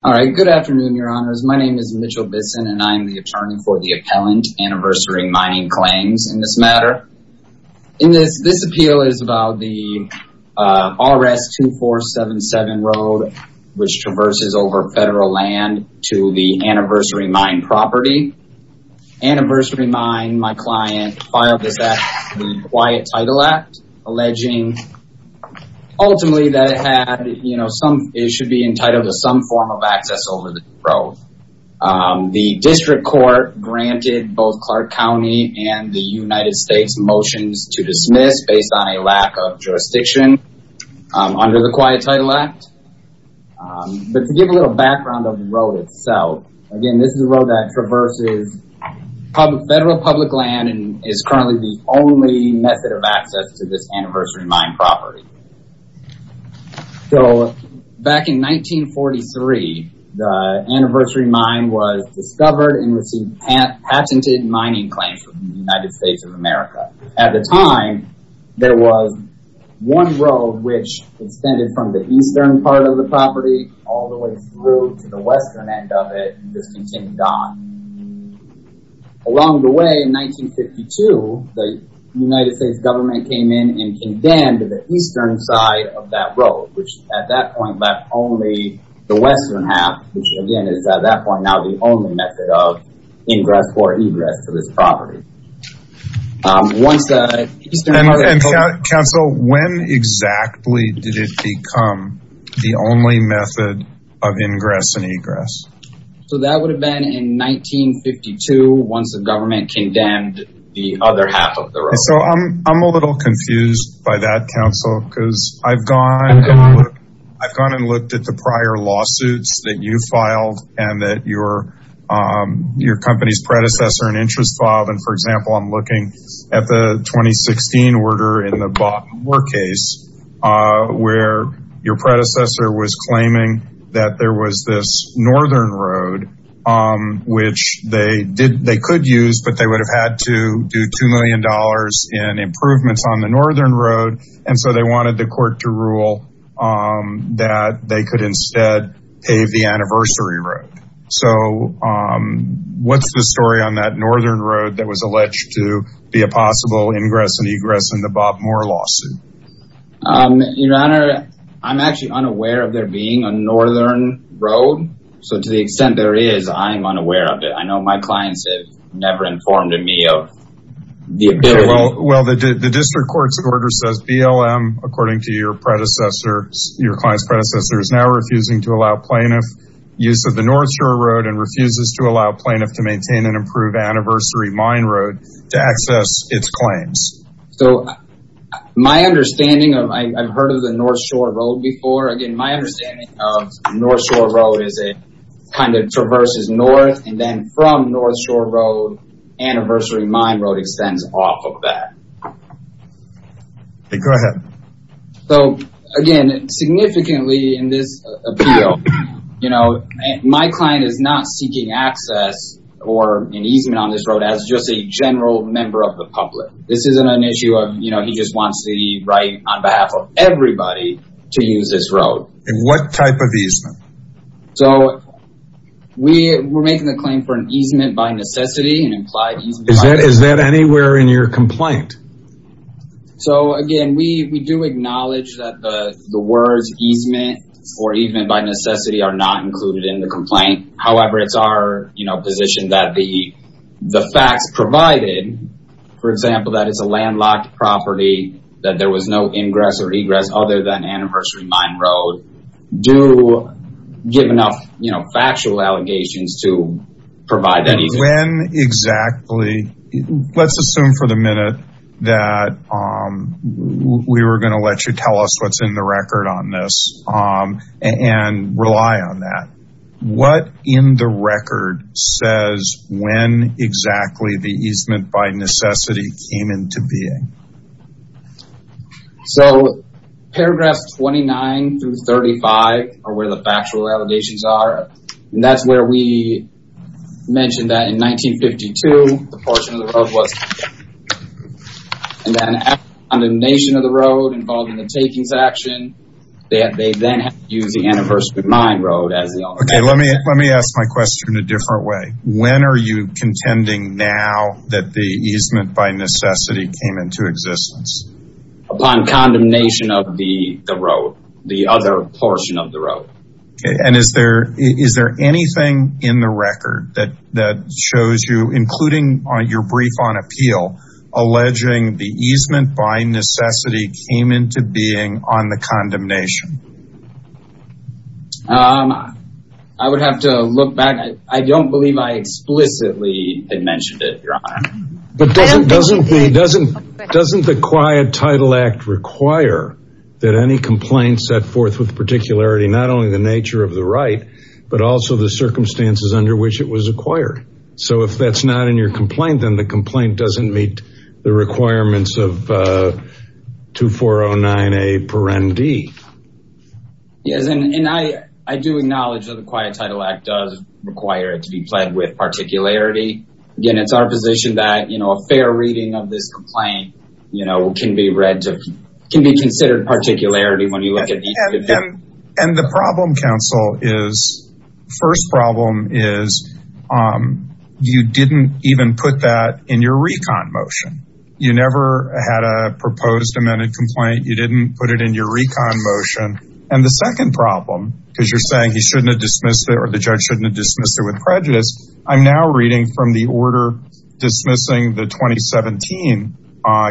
All right, good afternoon, Your Honors. My name is Mitchell Bisson, and I'm the attorney for the Appellant Anniversary Mining Claims in this matter. In this, this appeal is about the R.S. 2477 Road, which traverses over federal land to the Anniversary Mine property. Anniversary Mine, my client, filed this act, the Quiet Title Act, alleging ultimately that it had, you know, some, it should be entitled to some form of access over the road. The District Court granted both Clark County and the United States motions to dismiss based on a lack of jurisdiction under the Quiet Title Act. But to give a little background of the road itself, again, this is a road that traverses public federal public land and is currently the only method of access to this Anniversary Mine property. So back in 1943, the Anniversary Mine was discovered and received patented mining claims from the United States of America. At the time, there was one road which extended from the eastern part of the property all the way through to the western end of it and just continued on. Along the way in 1952, the United States government came in and condemned the eastern side of that road, which at that point left only the western half, which again, is at that point now the only method of ingress or egress to this property. Once the eastern part of the property- Counsel, when exactly did it become the only method of ingress and egress? So that would have been in 1952 once the government condemned the other half of the road. So I'm a little confused by that, Counsel, because I've gone and looked at the prior lawsuits that you filed and that your company's predecessor in interest filed. And for example, I'm looking at the 2016 order in the Baltimore case where your predecessor was claiming that there was this northern road, which they could use, but they would have had to do $2 million in improvements on the northern road. And so they wanted the court to rule that they could instead pave the anniversary road. So what's the story on that northern road that was alleged to be a possible ingress and egress in the Baltimore lawsuit? Your Honor, I'm actually unaware of there being a northern road. So to the extent there is, I'm unaware of it. I know my clients have never informed me of the ability- Well, the district court's order says BLM, according to your predecessor, your client's predecessor, is now refusing to allow plaintiff use of the North Shore Road and refuses to allow plaintiff to maintain an improved anniversary mine road to access its claims. So my understanding of, I've heard of the North Shore Road before. Again, my understanding of North Shore Road is it kind of traverses north and then from North Shore Road, anniversary mine road extends off of that. Go ahead. So again, significantly in this appeal, you know, my client is not seeking access or an easement on this road as just a general member of the public. This isn't an issue of, you know, he just wants the right on behalf of everybody to use this road. And what type of easement? So we were making the claim for an easement by necessity and implied easement by necessity. Is that anywhere in your complaint? So again, we do acknowledge that the words easement or easement by necessity are not included in the complaint. However, it's our, you know, position that the facts provided, for example, that it's a landlocked property, that there was no ingress or egress other than anniversary mine road, do give enough, you know, factual allegations to provide that easement. When exactly? Let's assume for the minute that we were going to let you tell us what's in the record on this and rely on that. What in the record says when exactly the easement by necessity came into being? So paragraphs 29 through 35 are where the factual allegations are. And that's where we mentioned that in 1952, the portion of the road was, and then on the nation of the road involved in the takings action, they then used the anniversary mine road as the only. Okay, let me, let me ask my question in a different way. When are you contending now that the easement by necessity came into existence? Upon condemnation of the road, the other portion of the road. And is there, is there anything in the record that, that shows you, including on your brief on appeal, alleging the easement by necessity came into being on the condemnation? I would have to look back. I don't believe I explicitly had mentioned it. But doesn't, doesn't, doesn't, doesn't the quiet title act require that any complaint set forth with particularity, not only the nature of the right, but also the circumstances under which it was acquired. So if that's not in your complaint, then the complaint doesn't meet the requirements of 2409A per ND. Yes. And I, I do acknowledge that the quiet title act does require it to be pledged with particularity. Again, it's our position that, you know, a fair reading of this complaint, you know, can be read to, can be considered particularity when you look at each of them. And the problem counsel is, first problem is, you didn't even put that in your recon motion. You never had a proposed amended complaint. You didn't put it in your recon motion. And the second problem, because you're saying he shouldn't have dismissed it or the judge shouldn't have dismissed it with prejudice. I'm now reading from the order dismissing the 2017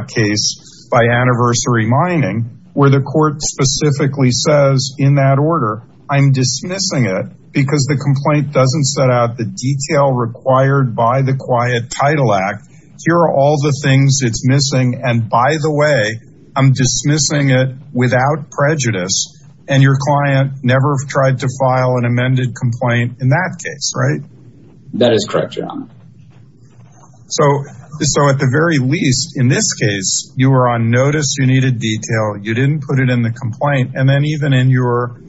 case by anniversary mining, where the court specifically says in that order, I'm dismissing it because the complaint doesn't set out the detail required by the quiet title act. Here are all the things it's missing. And by the way, I'm dismissing it without prejudice. And your client never tried to file an amended complaint in that case, right? That is correct, John. So, so at the very least, in this case, you were on notice, you needed detail, you didn't put it in the complaint. And then even in your,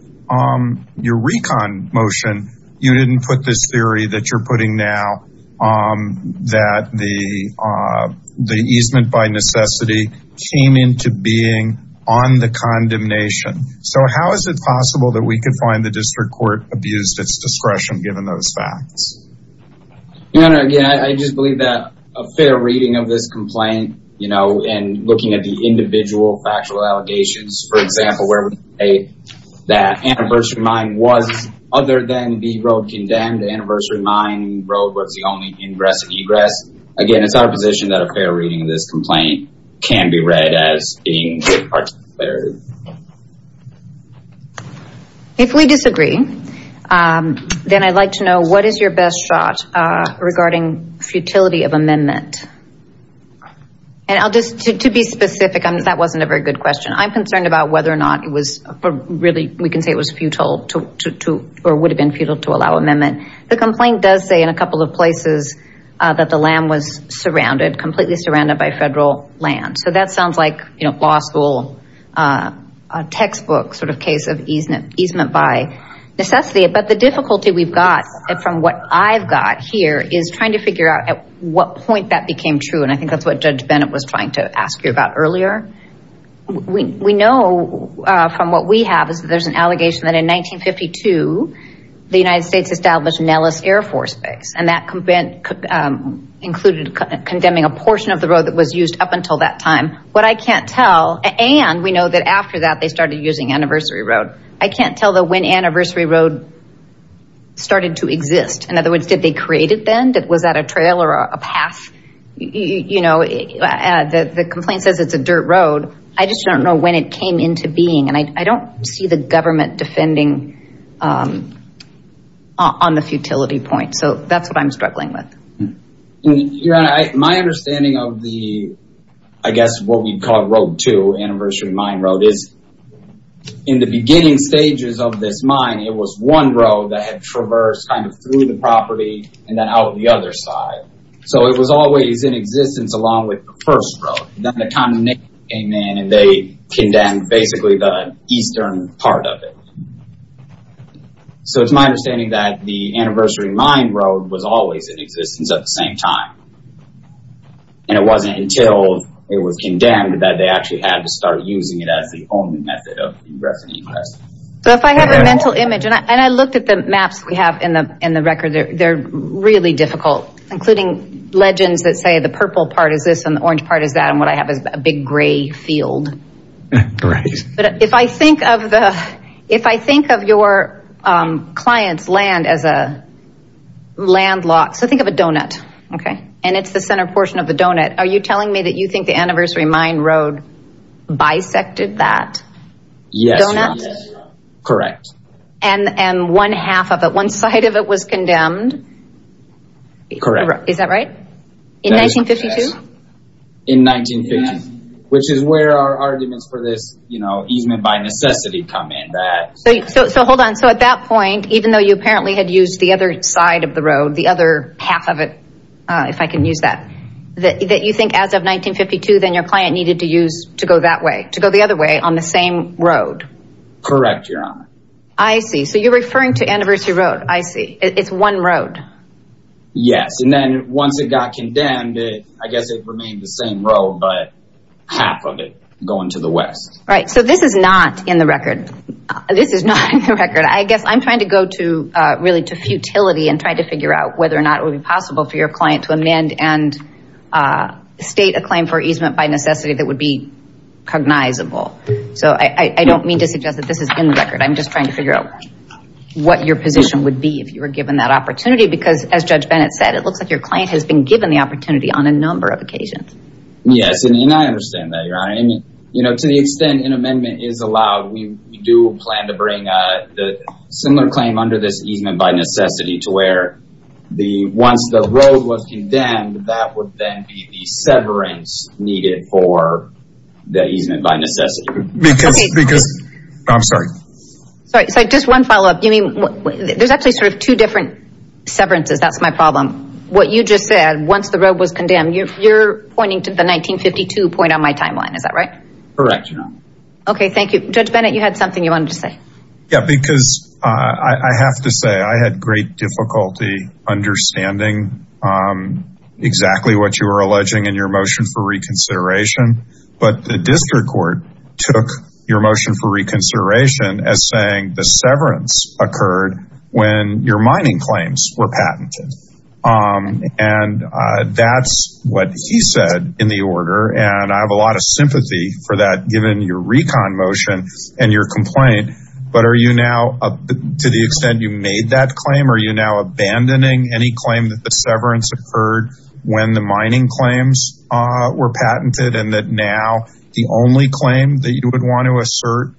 your recon motion, you didn't put this theory that you're came into being on the condemnation. So how is it possible that we could find the district court abused its discretion given those facts? Your Honor, again, I just believe that a fair reading of this complaint, you know, and looking at the individual factual allegations, for example, where we say that anniversary mine was other than the road condemned, anniversary mine road was the only ingress and egress. Again, it's our position that a fair reading of this complaint. Can be read as being a good part of the clarity. If we disagree, then I'd like to know what is your best shot regarding futility of amendment? And I'll just, to be specific, that wasn't a very good question. I'm concerned about whether or not it was really, we can say it was futile to, or would have been futile to allow amendment. The complaint does say in a couple of places that the land was surrounded, completely surrounded by federal land. So that sounds like law school textbook sort of case of easement by necessity. But the difficulty we've got from what I've got here is trying to figure out at what point that became true. And I think that's what Judge Bennett was trying to ask you about earlier. We know from what we have is that there's an allegation that in 1952, the United States established Nellis Air Force Base and that included condemning a portion of the road that was used up until that time. What I can't tell, and we know that after that, they started using Anniversary Road, I can't tell the when Anniversary Road started to exist. In other words, did they create it then? Was that a trail or a path? You know, the complaint says it's a dirt road. I just don't know when it came into being. And I don't see the government defending on the futility point. So that's what I'm struggling with. Your Honor, my understanding of the, I guess what we call Road 2, Anniversary Mine Road is in the beginning stages of this mine, it was one road that had traversed kind of through the property and then out the other side. So it was always in existence along with the first road. Then the condemnation came in and they condemned basically the eastern part of it. So it's my understanding that the Anniversary Mine Road was always in existence at the same time. And it wasn't until it was condemned that they actually had to start using it as the only method of revenue. So if I have a mental image and I looked at the maps we have in the in the record, they're really difficult, including legends that say the purple part is this and the orange part is that and what I have is a big gray field. But if I think of the if I think of your client's land as a landlocked, so think of a donut, OK, and it's the center portion of the donut. Are you telling me that you think the Anniversary Mine Road bisected that? Yes, correct. And one half of it, one side of it was condemned. Correct. Is that right? In 1952? In 1952, which is where our arguments for this, you know, easement by necessity come in. So hold on. So at that point, even though you apparently had used the other side of the other half of it, if I can use that, that you think as of 1952, then your client needed to use to go that way, to go the other way on the same road. Correct, Your Honor. I see. So you're referring to Anniversary Road. I see. It's one road. Yes. And then once it got condemned, I guess it remained the same road, but half of it going to the West. This is not in the record. I guess I'm trying to go to really to futility and try to figure out whether or not it would be possible for your client to amend and state a claim for easement by necessity that would be cognizable. So I don't mean to suggest that this is in the record. I'm just trying to figure out what your position would be if you were given that opportunity, because as Judge Bennett said, it looks like your client has been given the opportunity on a number of occasions. Yes. And I understand that, Your Honor. You know, to the extent an amendment is allowed, we do plan to bring a similar claim under this easement by necessity to where once the road was condemned, that would then be the severance needed for the easement by necessity. I'm sorry. Sorry, just one follow up. I mean, there's actually sort of two different severances. That's my problem. What you just said, once the road was condemned, you're pointing to the 1952 point on my timeline. Is that right? Correct. OK, thank you. Judge Bennett, you had something you wanted to say. Yeah, because I have to say I had great difficulty understanding exactly what you were alleging in your motion for reconsideration. But the district court took your motion for reconsideration as saying the severance occurred when your mining claims were patented. And that's what he said in the order. And I have a lot of sympathy for that given your recon motion and your complaint. But are you now, to the extent you made that claim, are you now abandoning any claim that the severance occurred when the mining claims were patented and that now the only claim that you would want to assert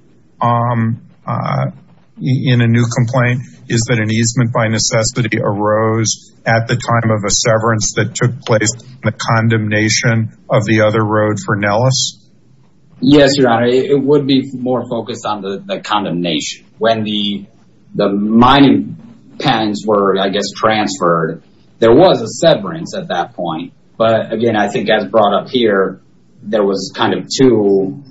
in a new complaint is that an easement by necessity arose at the time of a severance that took place in the condemnation of the other road for Nellis? Yes, Your Honor, it would be more focused on the condemnation. When the mining patents were, I guess, transferred, there was a severance at that point. But again, I think as brought up here, there was kind of two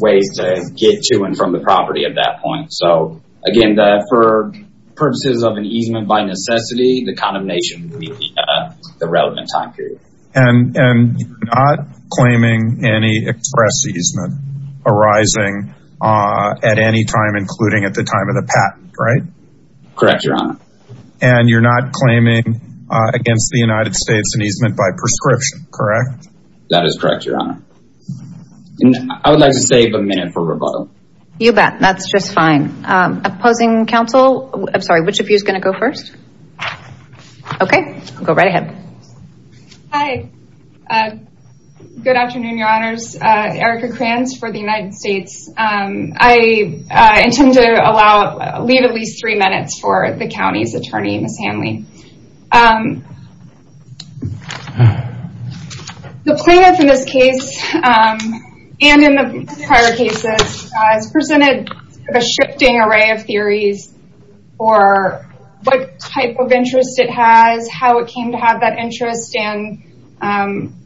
ways to get to and from the property at that point. So, again, for purposes of an easement by necessity, the condemnation would be the relevant time period. And you're not claiming any express easement arising at any time, including at the time of the patent, right? Correct, Your Honor. And you're not claiming against the United States an easement by prescription, correct? That is correct, Your Honor. I would like to save a minute for rebuttal. You bet. That's just fine. Opposing counsel? I'm sorry, which of you is going to go first? Okay, go right ahead. Hi. Good afternoon, Your Honors. Erica Kranz for the United States. I intend to leave at least three minutes for the county's attorney, Ms. Hanley. The plaintiff in this case, and in the prior cases, has presented a shifting array of theories for what type of interest it has, how it came to have that interest. And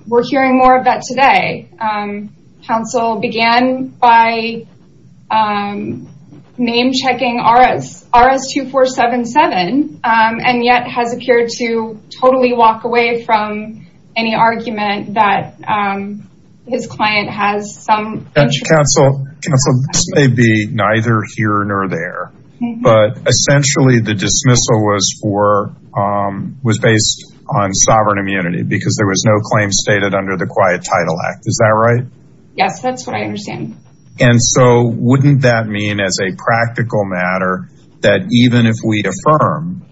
we're hearing more of that today. Counsel began by name-checking RS-2477, and yet has appeared to totally walk away from any argument that his client has some interest. Counsel, this may be neither here nor there, but essentially the dismissal was based on sovereign immunity because there was no claim stated under the Quiet Title Act. Is that right? Yes, that's what I understand. And so wouldn't that mean as a practical matter that even if we affirm,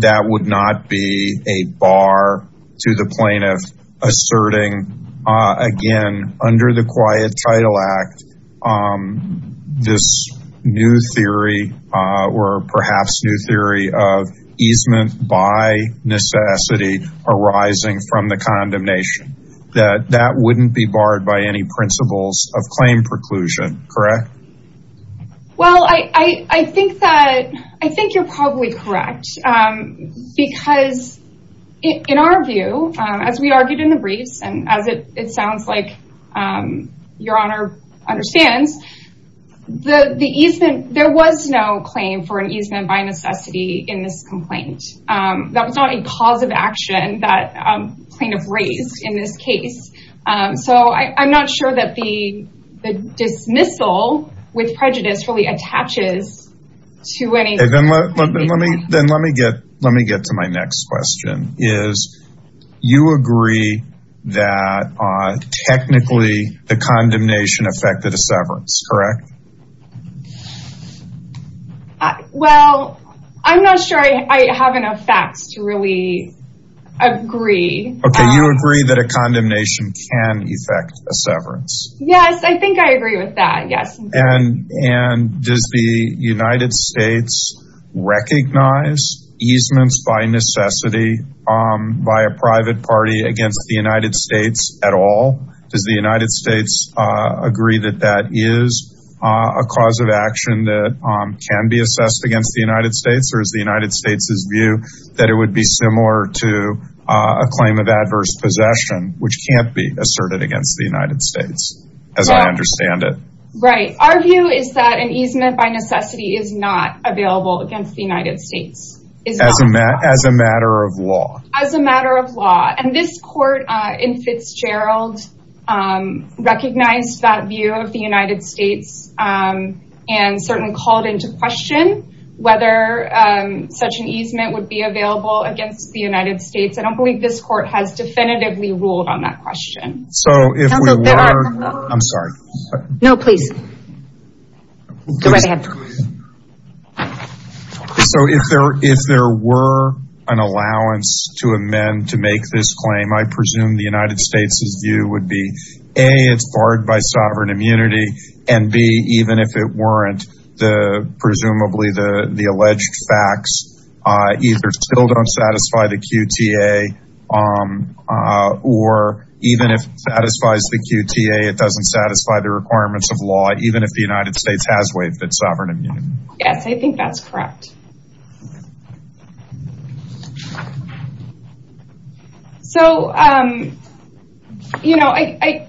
that would not be a bar to the plaintiff asserting, again, under the Quiet Title Act, this new theory or perhaps new theory of easement by necessity arising from the condemnation? That that wouldn't be barred by any principles of claim preclusion, correct? Well, I think that, I think you're probably correct because in our view, as we argued in the briefs, and as it sounds like your Honor understands, the easement, there was no claim for an easement by necessity in this complaint. That was not a cause of action that plaintiff raised in this case. So I'm not sure that the dismissal with prejudice really attaches to any... Then let me get to my next question, is you agree that technically the condemnation affected a severance, correct? Well, I'm not sure I have enough facts to really agree. Okay, you agree that a condemnation can affect a severance. Yes, I think I agree with that. Yes. And does the United States recognize easements by necessity by a private party against the United States at all? Does the United States agree that that is? A cause of action that can be assessed against the United States or is the United States' view that it would be similar to a claim of adverse possession, which can't be asserted against the United States, as I understand it? Right. Our view is that an easement by necessity is not available against the United States. As a matter of law. And this court in Fitzgerald recognized that view of the United States and certainly called into question whether such an easement would be available against the United States. I don't believe this court has definitively ruled on that question. So if we were... I'm sorry. No, please. Go right ahead. So if there were an allowance to amend to make this claim, I presume the United States' view would be, A, it's barred by sovereign immunity, and B, even if it weren't, presumably the alleged facts either still don't satisfy the QTA or even if it satisfies the QTA, it doesn't satisfy the requirements of law, even if the United States has waived its sovereign immunity. Yes, I think that's correct. So, you know, I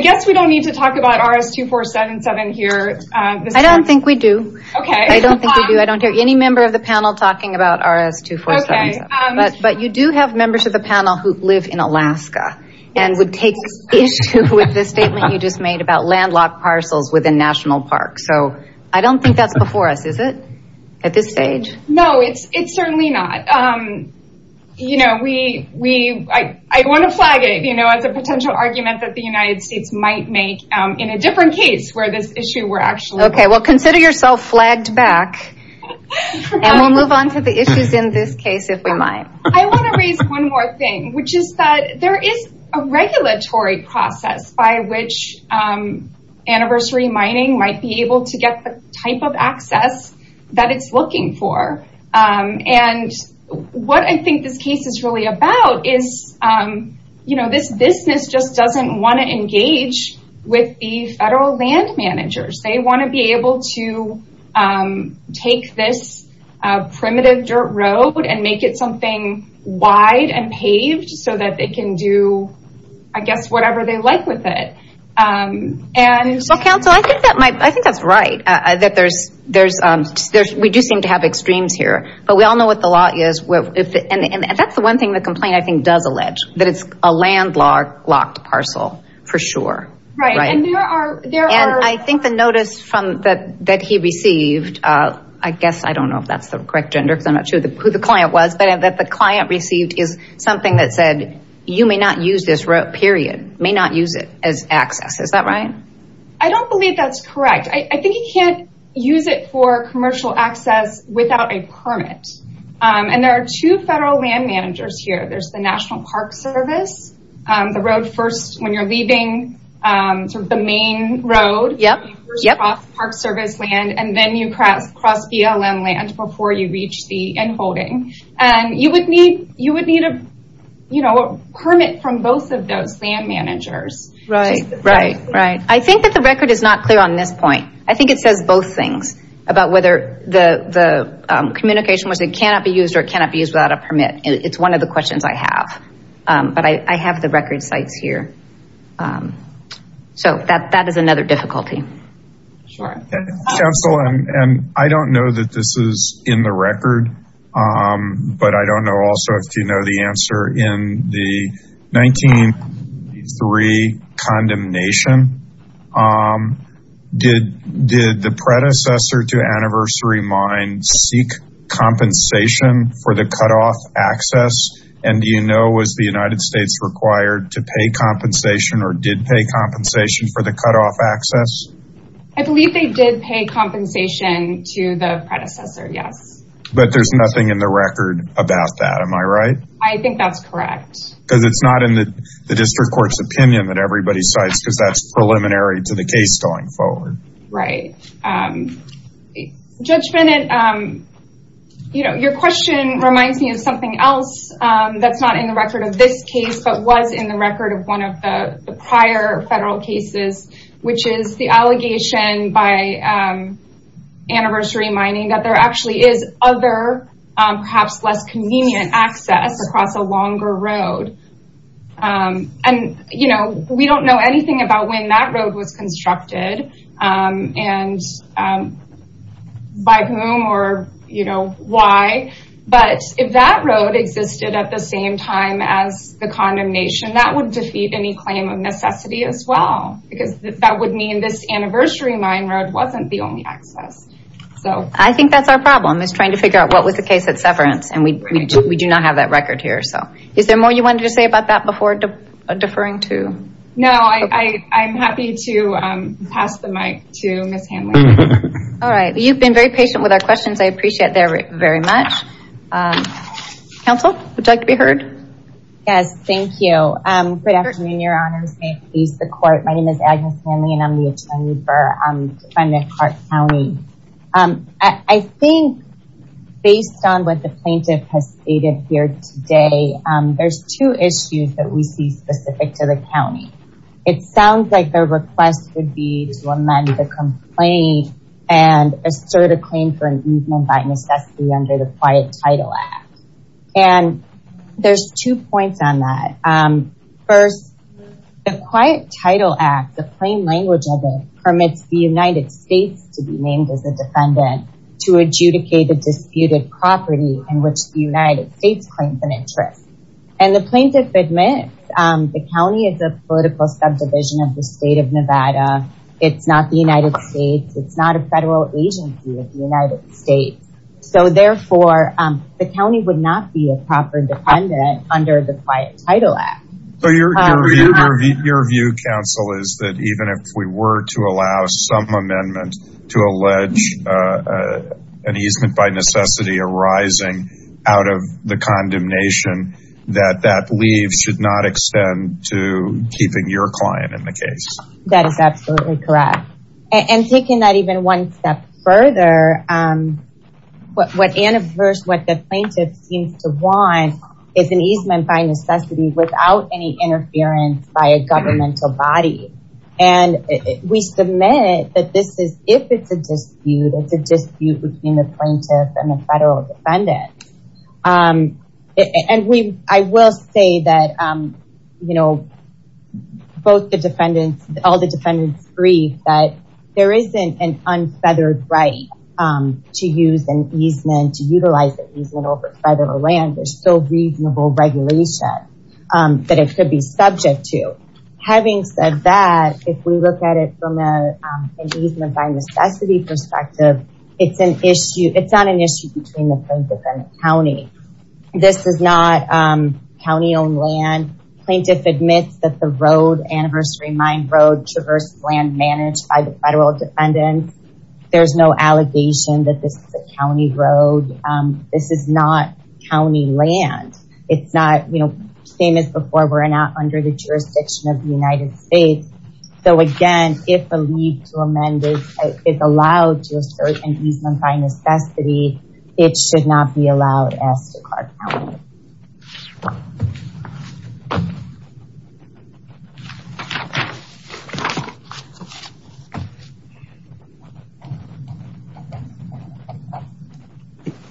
guess we don't need to talk about RS-2477 here. I don't think we do. Okay. I don't think we do. I don't hear any member of the panel talking about RS-2477, but you do have members of the panel who live in Alaska and would take issue with the statement you just made about landlocked parcels within national parks. So I don't think that's before us, is it, at this stage? No, it's certainly not. You know, I want to flag it, you know, as a potential argument that the United States might make in a different case where this issue were actually... Okay, well, consider yourself flagged back and we'll move on to the issues in this case if we might. I want to raise one more thing, which is that there is a regulatory process by which anniversary mining might be able to get the type of access that it's looking for. And what I think this case is really about is, you know, this business just doesn't want to engage with the federal land managers. They want to be able to take this primitive dirt road and make it something wide and paved so that they can do, I guess, whatever they like with it. Well, counsel, I think that's right. We do seem to have extremes here, but we all know what the law is. That's the one thing the complaint, I think, does allege, that it's a landlocked parcel for sure. And I think the notice that he received, I guess, I don't know if that's the correct gender because I'm not sure who the client was, but that the client received is something that said, you may not use this road, period, may not use it as access. Is that right? I don't believe that's correct. I think you can't use it for commercial access without a permit. And there are two federal land managers here. There's the National Park Service. The road first, when you're leaving the main road, you first cross Park Service land, and then you cross BLM land before you reach the end holding. And you would need a permit from both of those land managers. Right, right, right. I think that the record is not clear on this point. I think it says both things about whether the communication was it cannot be used or it cannot be used without a permit. It's one of the questions I have. But I have the record sites here. So that is another difficulty. Sure. Council, and I don't know that this is in the record. But I don't know also if you know the answer in the 1983 condemnation. Um, did the predecessor to Anniversary Mine seek compensation for the cutoff access? And do you know was the United States required to pay compensation or did pay compensation for the cutoff access? I believe they did pay compensation to the predecessor. Yes. But there's nothing in the record about that. Am I right? I think that's correct. Because it's not in the district court's opinion that everybody cites because that's preliminary to the case going forward. Right. Judge Bennett, you know, your question reminds me of something else that's not in the record of this case, but was in the record of one of the prior federal cases, which is the allegation by Anniversary Mining that there actually is other, perhaps less convenient access across a longer road. Um, and, you know, we don't know anything about when that road was constructed. And by whom or, you know, why. But if that road existed at the same time as the condemnation, that would defeat any claim of necessity as well. Because that would mean this Anniversary Mine road wasn't the only access. So I think that's our problem is trying to figure out what was the case at Severance. And we do not have that record here. Is there more you wanted to say about that before deferring to? No, I'm happy to pass the mic to Ms. Hanley. All right. You've been very patient with our questions. I appreciate that very much. Counsel, would you like to be heard? Yes. Thank you. Good afternoon, Your Honors. May it please the court. My name is Agnes Hanley, and I'm the attorney for Defendant Clark County. I think based on what the plaintiff has stated here today, there's two issues that we see specific to the county. It sounds like the request would be to amend the complaint and assert a claim for an easement by necessity under the Quiet Title Act. And there's two points on that. First, the Quiet Title Act, the plain language of it, is to be named as a defendant to adjudicate a disputed property in which the United States claims an interest. And the plaintiff admits the county is a political subdivision of the state of Nevada. It's not the United States. It's not a federal agency of the United States. So therefore, the county would not be a proper defendant under the Quiet Title Act. So your view, counsel, is that even if we were to allow some amendment to allege an easement by necessity arising out of the condemnation, that that leave should not extend to keeping your client in the case. That is absolutely correct. And taking that even one step further, what the plaintiff seems to want is an easement by necessity without any interference by a governmental body. And we submit that this is, if it's a dispute, it's a dispute between the plaintiff and the federal defendants. And I will say that, you know, all the defendants agree that there isn't an unfeathered right to use an easement, to utilize an easement over federal land. There's still reasonable regulation that it could be subject to. Having said that, if we look at it from an easement by necessity perspective, it's an issue. It's not an issue between the plaintiff and the county. This is not county-owned land. Plaintiff admits that the road, Anniversary Mine Road, traverses land managed by the federal defendants. There's no allegation that this is a county road. This is not county land. It's not, you know, same as before, we're not under the jurisdiction of the United States. So again, if a leave to amend is allowed to assert an easement by necessity, it should not be allowed as Descartes County.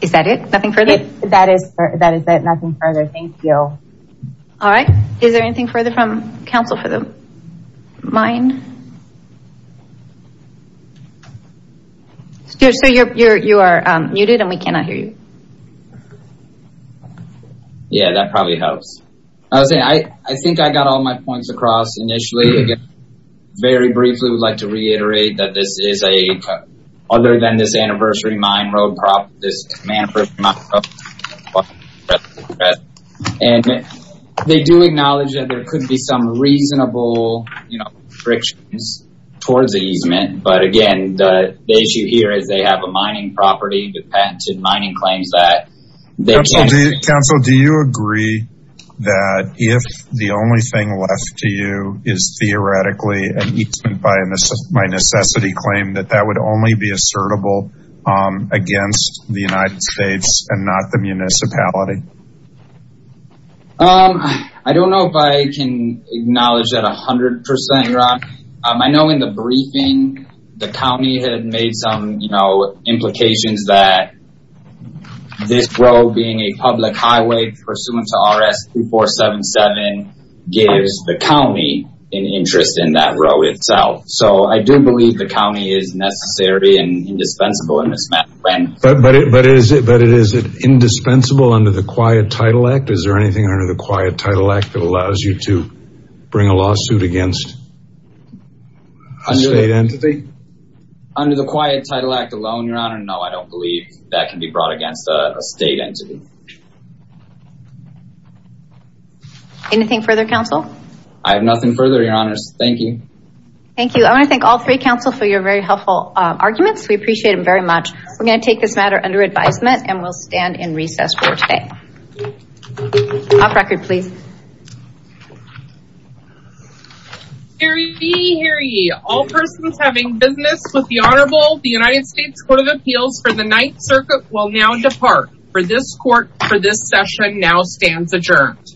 Is that it? Nothing further? That is it. Nothing further. Thank you. All right. Is there anything further from counsel for the mine? So you're muted and we cannot hear you. Yeah, that probably helps. I was saying, I think I got all my points across initially. Again, very briefly, we'd like to reiterate that this is a, other than this Anniversary Mine Road, and they do acknowledge that there could be some reasonable, you know, frictions towards the easement. But again, the issue here is they have a mining property with patented mining claims that they can't- Counsel, do you agree that if the only thing left to you is theoretically an easement by necessity claim, that that would only be assertable against the United States and not the municipality? I don't know if I can acknowledge that 100%, Ron. I know in the briefing, the county had made some, you know, highway pursuant to RS-3477 gives the county an interest in that road itself. So I do believe the county is necessary and indispensable in this matter. But is it indispensable under the Quiet Title Act? Is there anything under the Quiet Title Act that allows you to bring a lawsuit against a state entity? Under the Quiet Title Act alone, Your Honor, no, I don't believe that can be brought against a state entity. Anything further, Counsel? I have nothing further, Your Honors. Thank you. Thank you. I want to thank all three, Counsel, for your very helpful arguments. We appreciate them very much. We're going to take this matter under advisement and we'll stand in recess for today. Off record, please. Hear ye, hear ye. All persons having business with the Honorable, the United States Court of Appeals for the Ninth Circuit will now depart. For this court, for this session now stands adjourned.